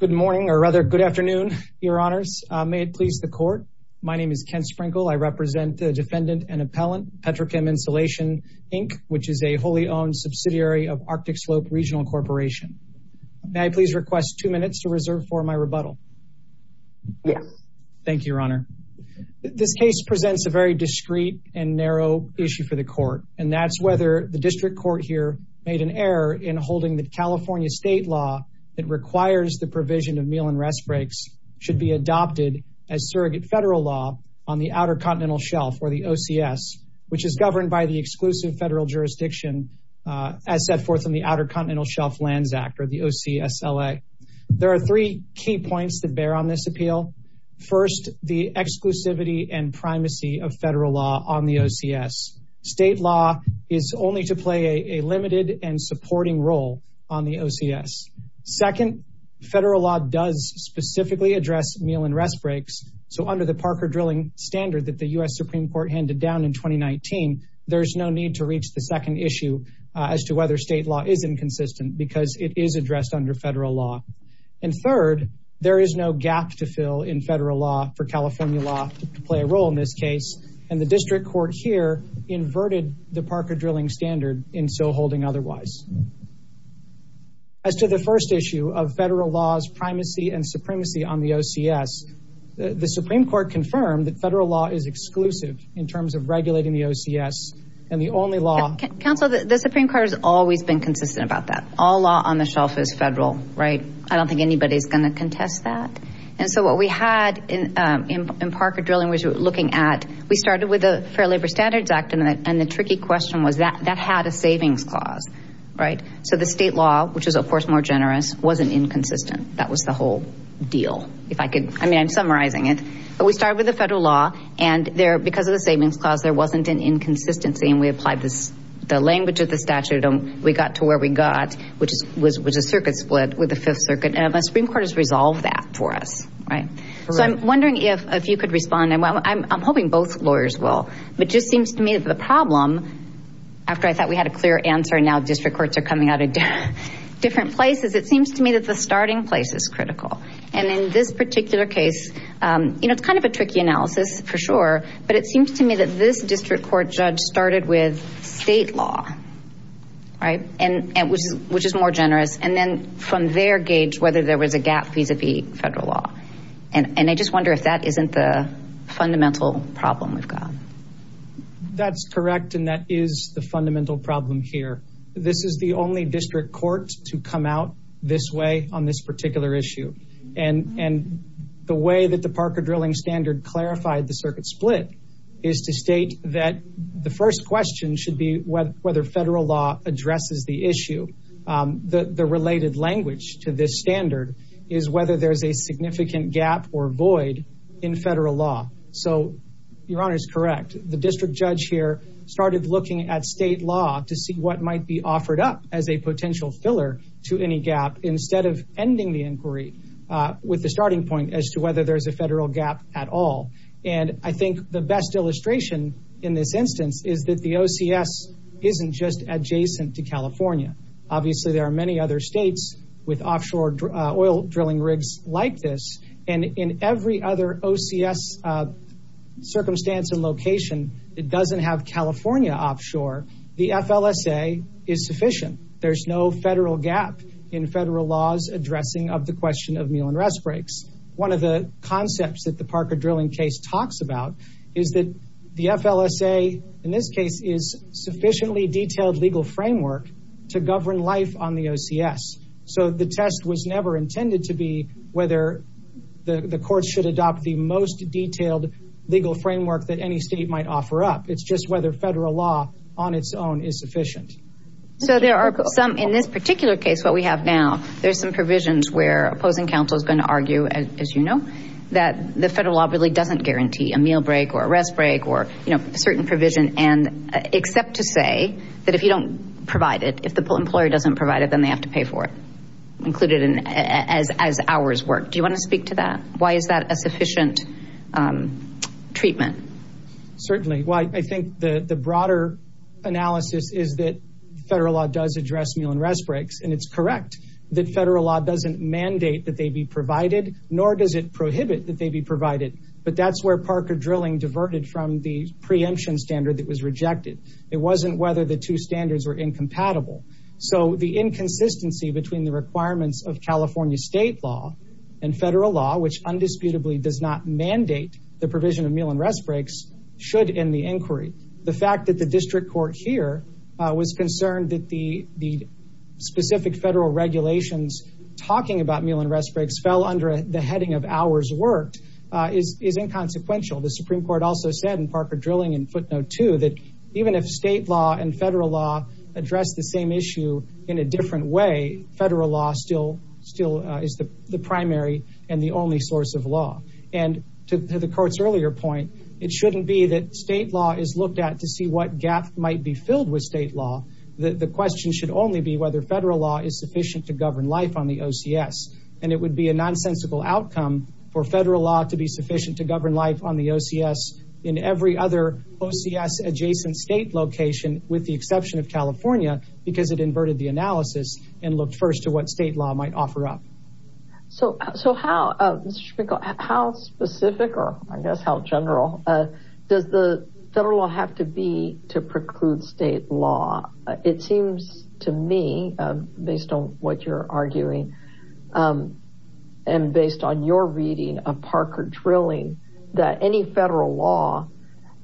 Good morning, or rather, good afternoon, Your Honors. May it please the Court, my name is Ken Sprinkel. I represent the defendant and appellant, Petrochem Insulation, Inc., which is a wholly owned subsidiary of Arctic Slope Regional Corporation. May I please request two minutes to reserve for my rebuttal? Yes. Thank you, Your Honor. This case presents a very discreet and narrow issue for the court, and that's whether the district court here made an error in holding the California state law that requires the provision of meal and rest breaks should be adopted as surrogate federal law on the Outer Continental Shelf, or the OCS, which is governed by the exclusive federal jurisdiction as set forth in the Outer Continental Shelf Lands Act, or the OCSLA. There are three key points that bear on this appeal. First, the exclusivity and primacy of federal law on the OCS. State law is only to play a limited and supporting role on the OCS. Second, federal law does specifically address meal and rest breaks. So under the Parker drilling standard that the U.S. Supreme Court handed down in 2019, there's no need to reach the second issue as to whether state law is inconsistent because it is addressed under federal law, and third, there is no gap to fill in federal law for California law to play a role in this case. And the district court here inverted the Parker drilling standard in so holding otherwise. As to the first issue of federal laws, primacy and supremacy on the OCS, the Supreme Court confirmed that federal law is exclusive in terms of regulating the OCS and the only law- Counsel, the Supreme Court has always been consistent about that. All law on the shelf is federal, right? I don't think anybody's going to contest that. And so what we had in Parker drilling, we were looking at, we started with the Fair Labor Standards Act and the tricky question was that that had a savings clause, right? So the state law, which is of course more generous, wasn't inconsistent. That was the whole deal. If I could, I mean, I'm summarizing it, but we started with the federal law and there, because of the savings clause, there wasn't an inconsistency. And we applied the language of the statute and we got to where we got, which was a circuit split with the fifth circuit and the Supreme Court has resolved that for us, right? So I'm wondering if, if you could respond, and I'm hoping both lawyers will, but just seems to me that the problem, after I thought we had a clear answer and now district courts are coming out of different places, it seems to me that the starting place is critical. And in this particular case, you know, it's kind of a tricky analysis for sure, but it seems to me that this district court judge started with state law, right, which is more generous. And then from their gauge, whether there was a gap vis-a-vis federal law. And I just wonder if that isn't the fundamental problem we've got. That's correct. And that is the fundamental problem here. This is the only district court to come out this way on this particular issue. And the way that the Parker drilling standard clarified the circuit split is to state that the first question should be whether federal law addresses the issue, the related language to this standard is whether there's a significant gap or void in federal law. So your honor is correct. The district judge here started looking at state law to see what might be offered up as a potential filler to any gap instead of ending the inquiry with the starting point as to whether there's a federal gap at all. And I think the best illustration in this instance is that the OCS isn't just adjacent to California. Obviously there are many other states with offshore oil drilling rigs like this and in every other OCS circumstance and location that doesn't have California offshore, the FLSA is sufficient. There's no federal gap in federal laws addressing of the question of meal and rest breaks. One of the concepts that the Parker drilling case talks about is that the court should adopt the most detailed legal framework to govern life on the OCS. So the test was never intended to be whether the court should adopt the most detailed legal framework that any state might offer up. It's just whether federal law on its own is sufficient. So there are some in this particular case, what we have now, there's some provisions where opposing counsel is going to argue, as you know, that the federal law really doesn't guarantee a meal break or a rest break or, you know, it's correct to say that if you don't provide it, if the employer doesn't provide it, then they have to pay for it, included as hours work. Do you want to speak to that? Why is that a sufficient treatment? Certainly. Well, I think the broader analysis is that federal law does address meal and rest breaks and it's correct that federal law doesn't mandate that they be provided, nor does it prohibit that they be provided. But that's where Parker drilling diverted from the preemption standard that was rejected. It wasn't whether the two standards were incompatible. So the inconsistency between the requirements of California state law and federal law, which undisputably does not mandate the provision of meal and rest breaks should end the inquiry. The fact that the district court here was concerned that the specific federal regulations talking about meal and rest breaks fell under the heading of hours worked is inconsequential. The Supreme court also said in Parker drilling in footnote two, that even if state law and federal law address the same issue in a different way, federal law still is the primary and the only source of law. And to the court's earlier point, it shouldn't be that state law is looked at to see what gap might be filled with state law. The question should only be whether federal law is sufficient to govern life on the OCS. And it would be a nonsensical outcome for federal law to be sufficient to in every other OCS adjacent state location, with the exception of California, because it inverted the analysis and looked first to what state law might offer up. So, so how, how specific, or I guess how general does the federal law have to be to preclude state law? It seems to me, based on what you're arguing and based on your reading of Parker drilling, that any federal law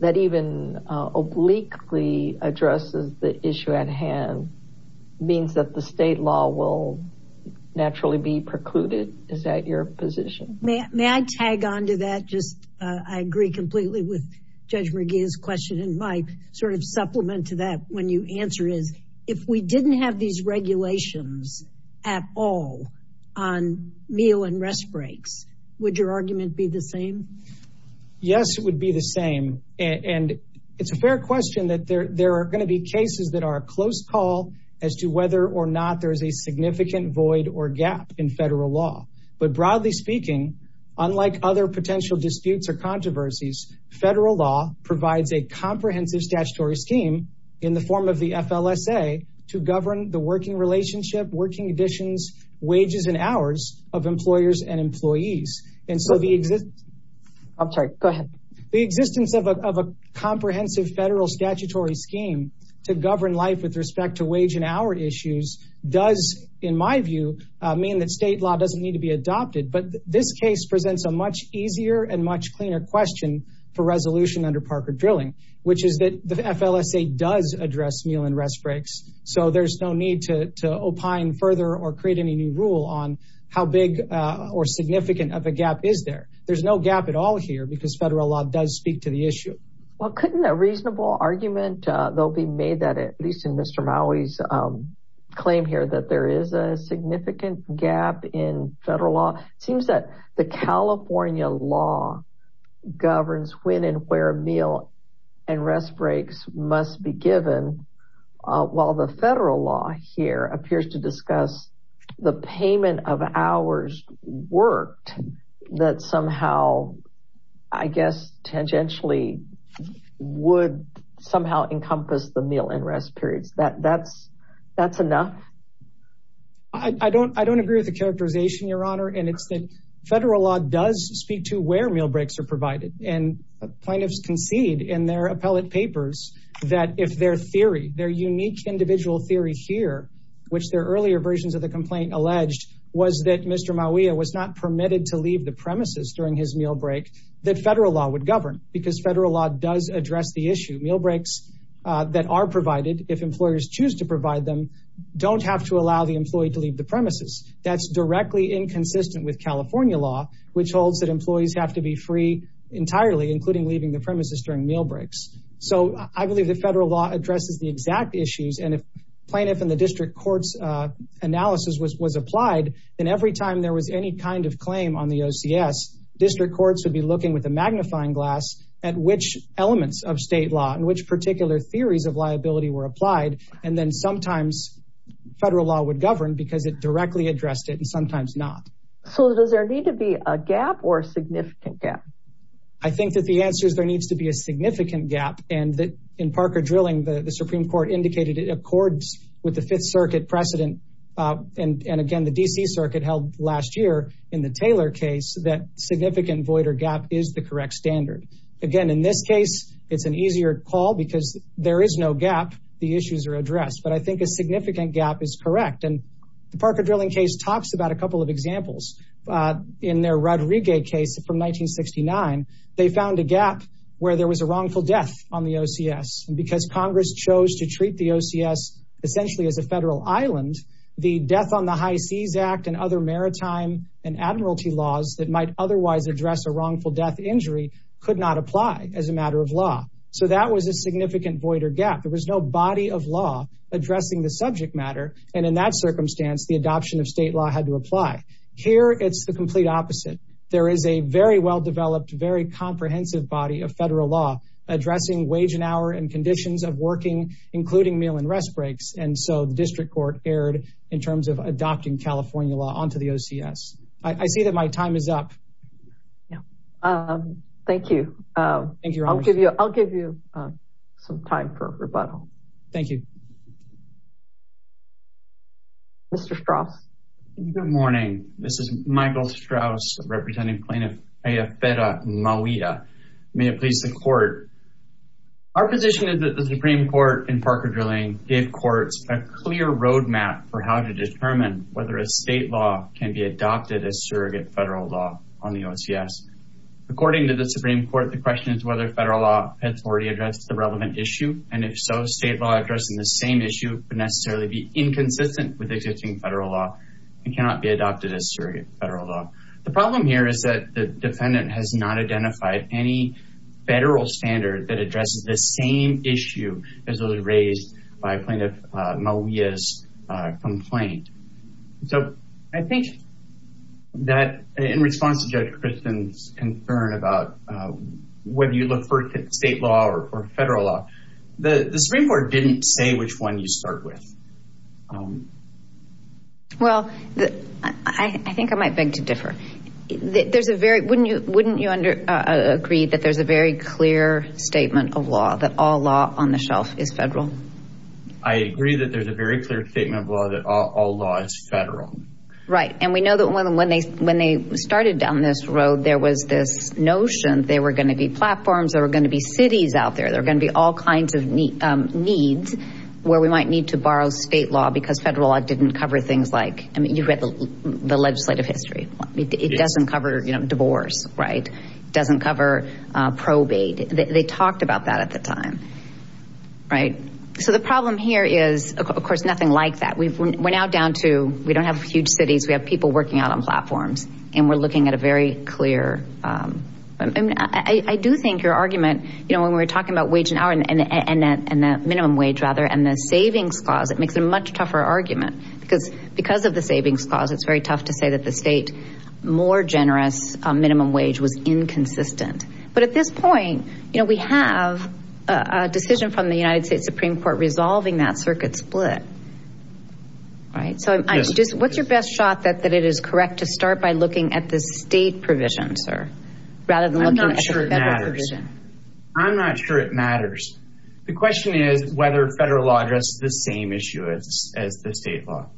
that even obliquely addresses the issue at hand means that the state law will naturally be precluded. Is that your position? May I tag onto that? Just, I agree completely with Judge McGee's question. And my sort of supplement to that, when you answer is, if we didn't have these Yes, it would be the same. And it's a fair question that there, there are going to be cases that are a close call as to whether or not there is a significant void or gap in federal law. But broadly speaking, unlike other potential disputes or controversies, federal law provides a comprehensive statutory scheme in the form of the FLSA to govern the working relationship, working conditions, wages, and hours of employers and employees. And so the existence of a comprehensive federal statutory scheme to govern life with respect to wage and hour issues does, in my view, mean that state law doesn't need to be adopted. But this case presents a much easier and much cleaner question for resolution under Parker drilling, which is that the FLSA does address meal and rest breaks. So there's no need to opine further or create any new rule on how big or how big of a gap is there. There's no gap at all here because federal law does speak to the issue. Well, couldn't a reasonable argument, there'll be made that at least in Mr. Maui's claim here that there is a significant gap in federal law. It seems that the California law governs when and where meal and rest breaks must be given, while the federal law here appears to discuss the payment of hours worked that somehow, I guess, tangentially would somehow encompass the meal and rest periods that that's, that's enough. I don't, I don't agree with the characterization, your honor. And it's the federal law does speak to where meal breaks are provided. And plaintiffs concede in their appellate papers that if their theory, their unique individual theory here, which their earlier versions of the complaint alleged was that Mr. Maui was not permitted to leave the premises during his meal break that federal law would govern because federal law does address the issue. Meal breaks that are provided. If employers choose to provide them, don't have to allow the employee to leave the premises. That's directly inconsistent with California law, which holds that employees have to be free entirely, including leaving the premises during meal breaks. So I believe that federal law addresses the exact issues. And if plaintiff in the district courts analysis was, was applied, then every time there was any kind of claim on the OCS district courts would be looking with a magnifying glass at which elements of state law and which particular theories of liability were applied. And then sometimes federal law would govern because it directly addressed it and sometimes not. So does there need to be a gap or significant gap? I think that the answer is there needs to be a significant gap. And that in Parker drilling, the Supreme court indicated it accords with the fifth circuit precedent. And again, the DC circuit held last year in the Taylor case that significant void or gap is the correct standard. Again, in this case, it's an easier call because there is no gap. The issues are addressed, but I think a significant gap is correct. And the Parker drilling case talks about a couple of examples in their Rodriguez case from 1969. They found a gap where there was a wrongful death on the OCS and because Congress chose to treat the OCS essentially as a federal Island, the death on the high seas act and other maritime and admiralty laws that might otherwise address a wrongful death injury could not apply as a matter of law. So that was a significant void or gap. There was no body of law addressing the subject matter. And in that circumstance, the adoption of state law had to apply here. It's the complete opposite. There is a very well-developed, very comprehensive body of federal law addressing wage and hour and conditions of working, including meal and rest breaks. And so the district court erred in terms of adopting California law onto the OCS. I see that my time is up. Yeah. Um, thank you. Um, I'll give you, I'll give you, uh, some time for rebuttal. Thank you. Mr. Strauss. Good morning. This is Michael Strauss representing plaintiff Ayafera Mawida. May it please the court. Our position is that the Supreme court in Parker Drilling gave courts a clear roadmap for how to determine whether a state law can be adopted as surrogate federal law on the OCS. According to the Supreme court, the question is whether federal law has already addressed the relevant issue. And if so, state law addressing the same issue would necessarily be inconsistent with existing federal law and cannot be adopted as surrogate federal law. The problem here is that the defendant has not identified any federal standard that addresses the same issue as those raised by plaintiff Mawida's complaint. So I think that in response to Judge Christen's concern about whether you look for state law or federal law, the Supreme court didn't say which one you would look for. Well, I think I might beg to differ. There's a very, wouldn't you agree that there's a very clear statement of law that all law on the shelf is federal? I agree that there's a very clear statement of law that all law is federal. Right. And we know that when they started down this road, there was this notion there were going to be platforms, there were going to be cities out there. There were going to be all kinds of needs where we might need to borrow state law because federal law didn't cover things like, I mean, you've read the legislative history. It doesn't cover, you know, divorce. Right. It doesn't cover probate. They talked about that at the time. Right. So the problem here is, of course, nothing like that. We've, we're now down to, we don't have huge cities. We have people working out on platforms and we're looking at a very clear. I mean, I do think your argument, you know, when we were talking about wage and the minimum wage rather, and the savings clause, it makes it a much tougher argument because, because of the savings clause, it's very tough to say that the state more generous minimum wage was inconsistent, but at this point, you know, we have a decision from the United States Supreme Court resolving that circuit split, right? So I just, what's your best shot that, that it is correct to start by looking at the state provision, sir, rather than looking at the federal provision. I'm not sure it matters. The question is whether federal law address the same issue as, as the state law,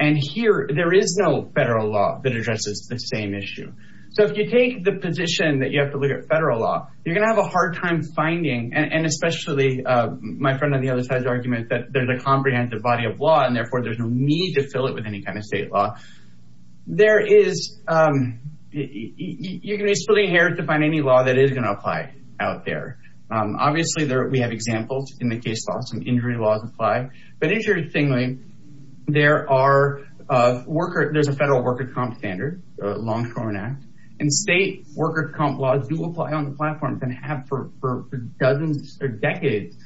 and here there is no federal law that addresses the same issue. So if you take the position that you have to look at federal law, you're going to have a hard time finding. And especially my friend on the other side's argument that there's a comprehensive body of law and therefore there's no need to fill it with any kind of state law there is. You're going to be splitting hair to find any law that is going to apply out there. Obviously there, we have examples in the case laws and injury laws apply, but interestingly, there are worker, there's a federal worker comp standard, a long term act, and state worker comp laws do apply on the platforms and have for, for dozens or decades.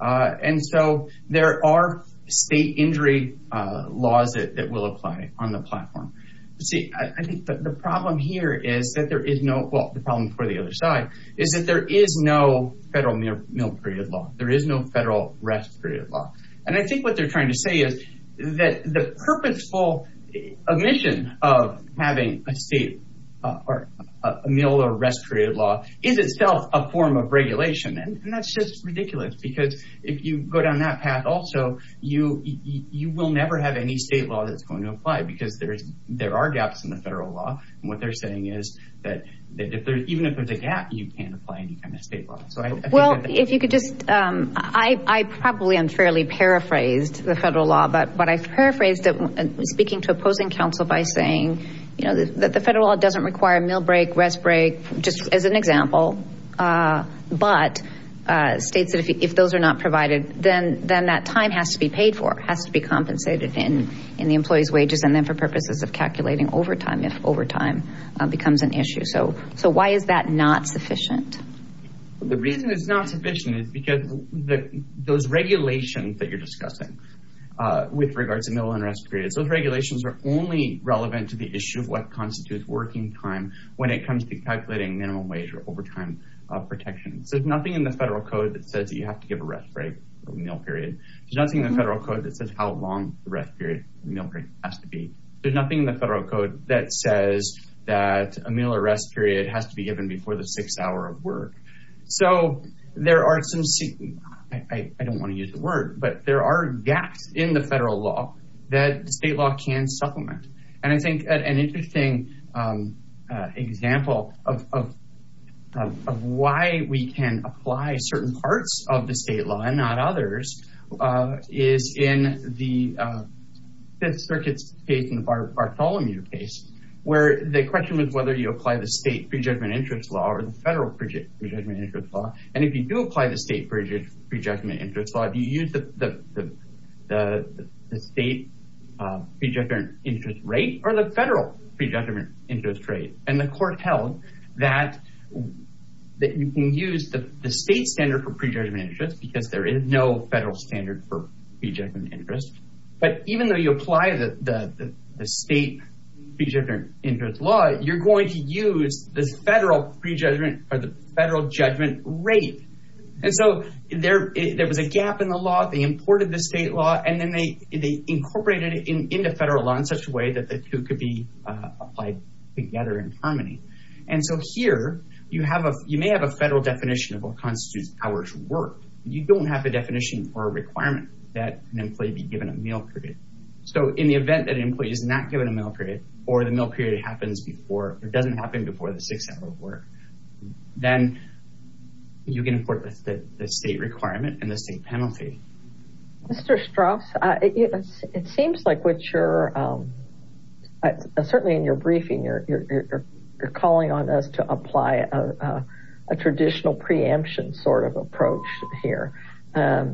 And so there are state injury laws that will apply on the platform. See, I think the problem here is that there is no, well, the problem for the other side is that there is no federal meal period law. There is no federal rest period law. And I think what they're trying to say is that the purposeful omission of having a state or a meal or rest period law is itself a form of regulation. And that's just ridiculous because if you go down that path also, you, you there are gaps in the federal law. And what they're saying is that if there's, even if there's a gap, you can't apply any kind of state law. So I think that- Well, if you could just, I, I probably unfairly paraphrased the federal law, but, but I paraphrased it speaking to opposing counsel by saying, you know, that the federal law doesn't require a meal break, rest break, just as an example, but states that if, if those are not provided, then, then that time has to be paid for, has to be compensated in, in the employee's wages and then for purposes of calculating overtime, if overtime becomes an issue. So, so why is that not sufficient? The reason it's not sufficient is because those regulations that you're discussing with regards to meal and rest periods, those regulations are only relevant to the issue of what constitutes working time when it comes to calculating minimum wage or overtime protection. So there's nothing in the federal code that says that you have to give a rest break or meal period. There's nothing in the federal code that says how long the rest period meal break has to be. There's nothing in the federal code that says that a meal or rest period has to be given before the sixth hour of work. So there are some, I don't want to use the word, but there are gaps in the federal law that the state law can supplement. And I think an interesting example of, of, of why we can apply certain parts of the circuit's case in the Bartolomeu case, where the question was whether you apply the state prejudgment interest law or the federal prejudgment interest law. And if you do apply the state prejudgment interest law, you use the, the, the state pre-judgment interest rate or the federal pre-judgment interest rate. And the court held that, that you can use the state standard for prejudgment interest, because there is no federal standard for pre-judgment interest. But even though you apply the, the, the state pre-judgment interest law, you're going to use the federal pre-judgment or the federal judgment rate. And so there, there was a gap in the law. They imported the state law and then they, they incorporated it into federal law in such a way that the two could be applied together in harmony. And so here you have a, you may have a federal definition of what constitutes powers of work. You don't have a definition or a requirement that an employee be given a meal period. So in the event that an employee is not given a meal period or the meal period happens before, or doesn't happen before the six hour work, then you can import the state requirement and the state penalty. Mr. Strauss, it seems like what you're, certainly in your briefing, you're, you're, you're, you're calling on us to apply a, a traditional preemption sort of approach here and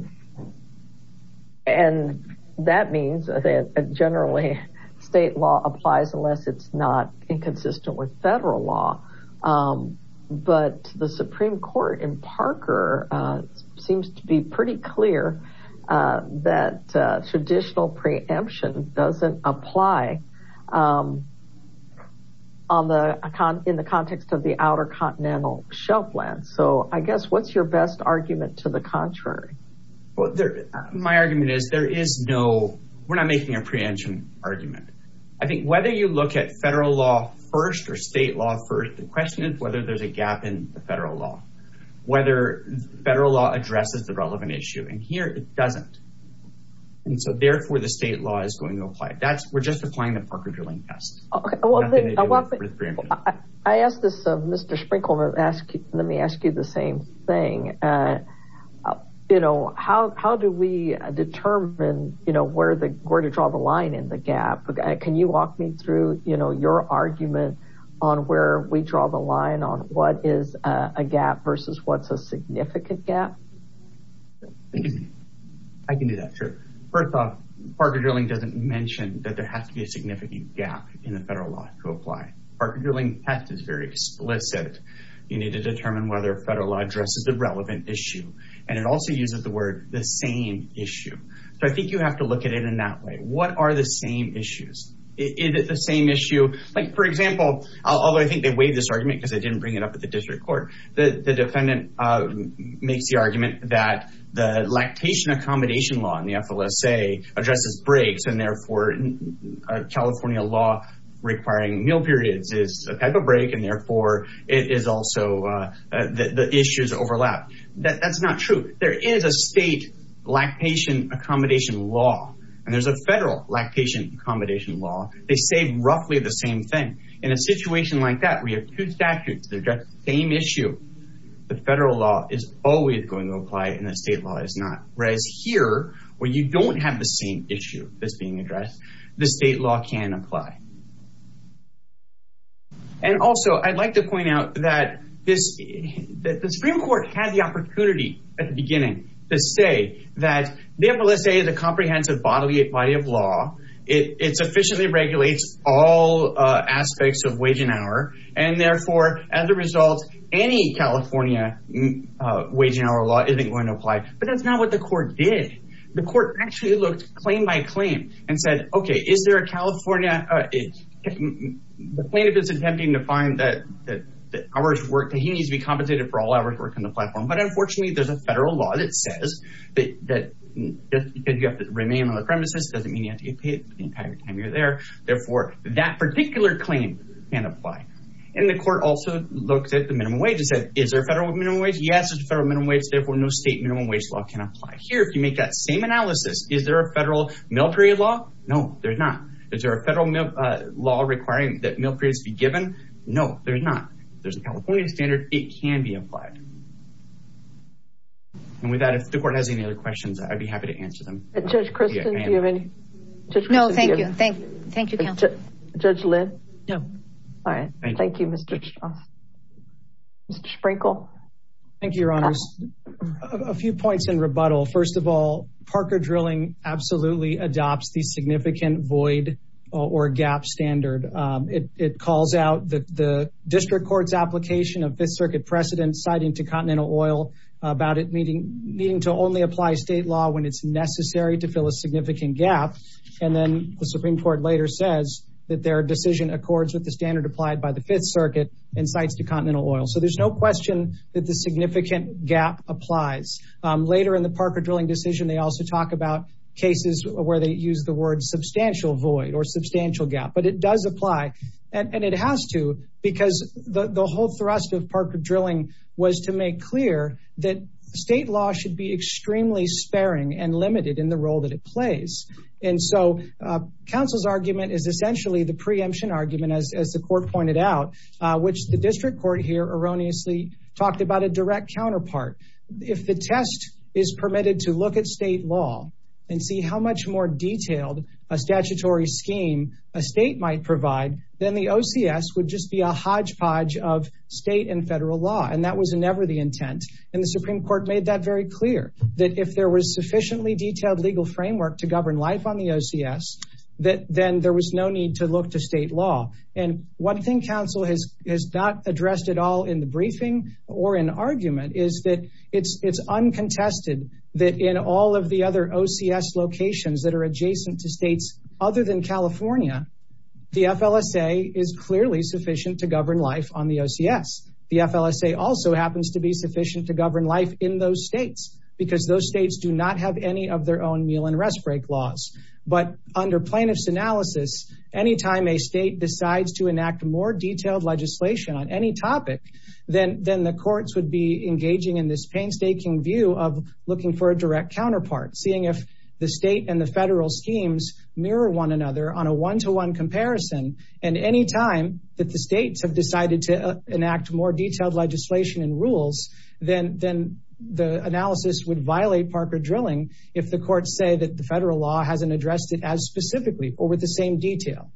that means that generally state law applies unless it's not inconsistent with federal law. But the Supreme court in Parker seems to be pretty clear that traditional preemption doesn't apply on the, in the context of the outer continental shelf land. So I guess what's your best argument to the contrary? Well, there, my argument is there is no, we're not making a preemption argument. I think whether you look at federal law first or state law first, the question is whether there's a gap in the federal law, whether federal law addresses the relevant issue and here it doesn't. And so therefore the state law is going to apply. That's, we're just applying the Parker-Durling test. Okay. Let me ask you the same thing. You know, how, how do we determine, you know, where the, where to draw the line in the gap, can you walk me through, you know, your argument on where we draw the line on what is a gap versus what's a significant gap? I can do that. Sure. First off, Parker-Durling doesn't mention that there has to be a significant gap in the federal law to apply. Parker-Durling test is very explicit. You need to determine whether federal law addresses the relevant issue and it also uses the word the same issue. So I think you have to look at it in that way. What are the same issues? Is it the same issue? Like, for example, although I think they weighed this argument because they didn't bring it up at the district court, the defendant makes the argument that the lactation accommodation law in the FLSA addresses breaks and therefore California law requiring meal periods is a type of break and therefore it is also the issues overlap, that's not true. There is a state lactation accommodation law and there's a federal lactation accommodation law. They say roughly the same thing. In a situation like that, we have two statutes that address the same issue. The federal law is always going to apply and the state law is not. Whereas here, where you don't have the same issue that's being addressed, the federal law is always going to apply. And also, I'd like to point out that the Supreme Court had the opportunity at the beginning to say that the FLSA is a comprehensive bodily body of law. It sufficiently regulates all aspects of wage and hour and therefore, as a result, any California wage and hour law isn't going to apply. But that's not what the court did. The court actually looked claim by claim and said, OK, is there a California, the plaintiff is attempting to find that hours work, that he needs to be compensated for all hours work on the platform. But unfortunately, there's a federal law that says that you have to remain on the premises, doesn't mean you have to get paid the entire time you're there. Therefore, that particular claim can't apply. And the court also looked at the minimum wage and said, is there a federal minimum wage? Yes, there's a federal minimum wage, therefore no state minimum wage law can apply. Here, if you make that same analysis, is there a federal military law? No, there's not. Is there a federal law requiring that military be given? No, there's not. There's a California standard. It can be applied. And with that, if the court has any other questions, I'd be happy to answer them. Judge Kristen, do you have any? No, thank you. Thank you, counsel. Judge Lynn? No. All right. Thank you, Mr. Mr. Sprinkle. Thank you, Your Honors. A few points in rebuttal. First of all, Parker Drilling absolutely adopts the significant void or gap standard. It calls out the district court's application of Fifth Circuit precedent citing to Continental Oil about it needing to only apply state law when it's necessary to fill a significant gap. And then the Supreme Court later says that their decision accords with the standard applied by the Fifth Circuit and cites to Continental Oil. So there's no question that the significant gap applies. Later in the Parker Drilling decision, they also talk about cases where they use the word substantial void or substantial gap. But it does apply and it has to because the whole thrust of Parker Drilling was to make clear that state law should be extremely sparing and limited in the role that it plays. And so counsel's argument is essentially the preemption argument, as the district court here erroneously talked about a direct counterpart. If the test is permitted to look at state law and see how much more detailed a statutory scheme a state might provide, then the OCS would just be a hodgepodge of state and federal law. And that was never the intent. And the Supreme Court made that very clear that if there was sufficiently detailed legal framework to govern life on the OCS, that then there was no need to look to state and federal law. And the reason that that's not addressed at all in the briefing or in argument is that it's it's uncontested that in all of the other OCS locations that are adjacent to states other than California, the FLSA is clearly sufficient to govern life on the OCS. The FLSA also happens to be sufficient to govern life in those states because those states do not have any of their own meal and rest break laws. But under plaintiff's analysis, any time a state decides to enact more detailed legislation on any topic, then the courts would be engaging in this painstaking view of looking for a direct counterpart, seeing if the state and the federal schemes mirror one another on a one to one comparison. And any time that the states have decided to enact more detailed legislation and rules, then the analysis would violate Parker drilling. If the courts say that the federal law hasn't addressed it as specifically or with the same detail.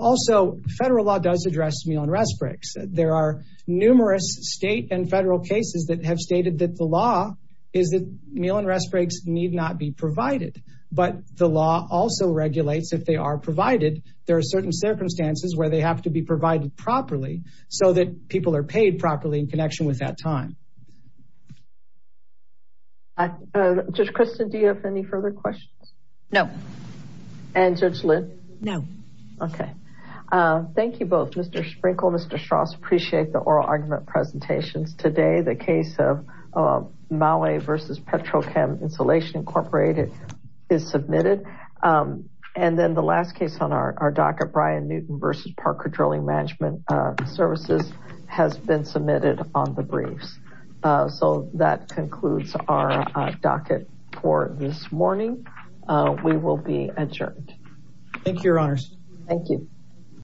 Also, federal law does address meal and rest breaks. There are numerous state and federal cases that have stated that the law is that meal and rest breaks need not be provided. But the law also regulates if they are provided. There are certain circumstances where they have to be provided properly so that people are paid properly in connection with that time. I just Kristen, do you have any further questions? No. And Judge Lynn? No. OK, thank you both. Mr. Sprinkle, Mr. Strauss, appreciate the oral argument presentations today. The case of Maui versus Petrochem Insulation Incorporated is submitted. And then the last case on our docket, Brian Newton versus Parker Drilling Management Services has been submitted on the briefs. So that concludes our docket for this morning. We will be adjourned. Thank you, Your Honors. Thank you.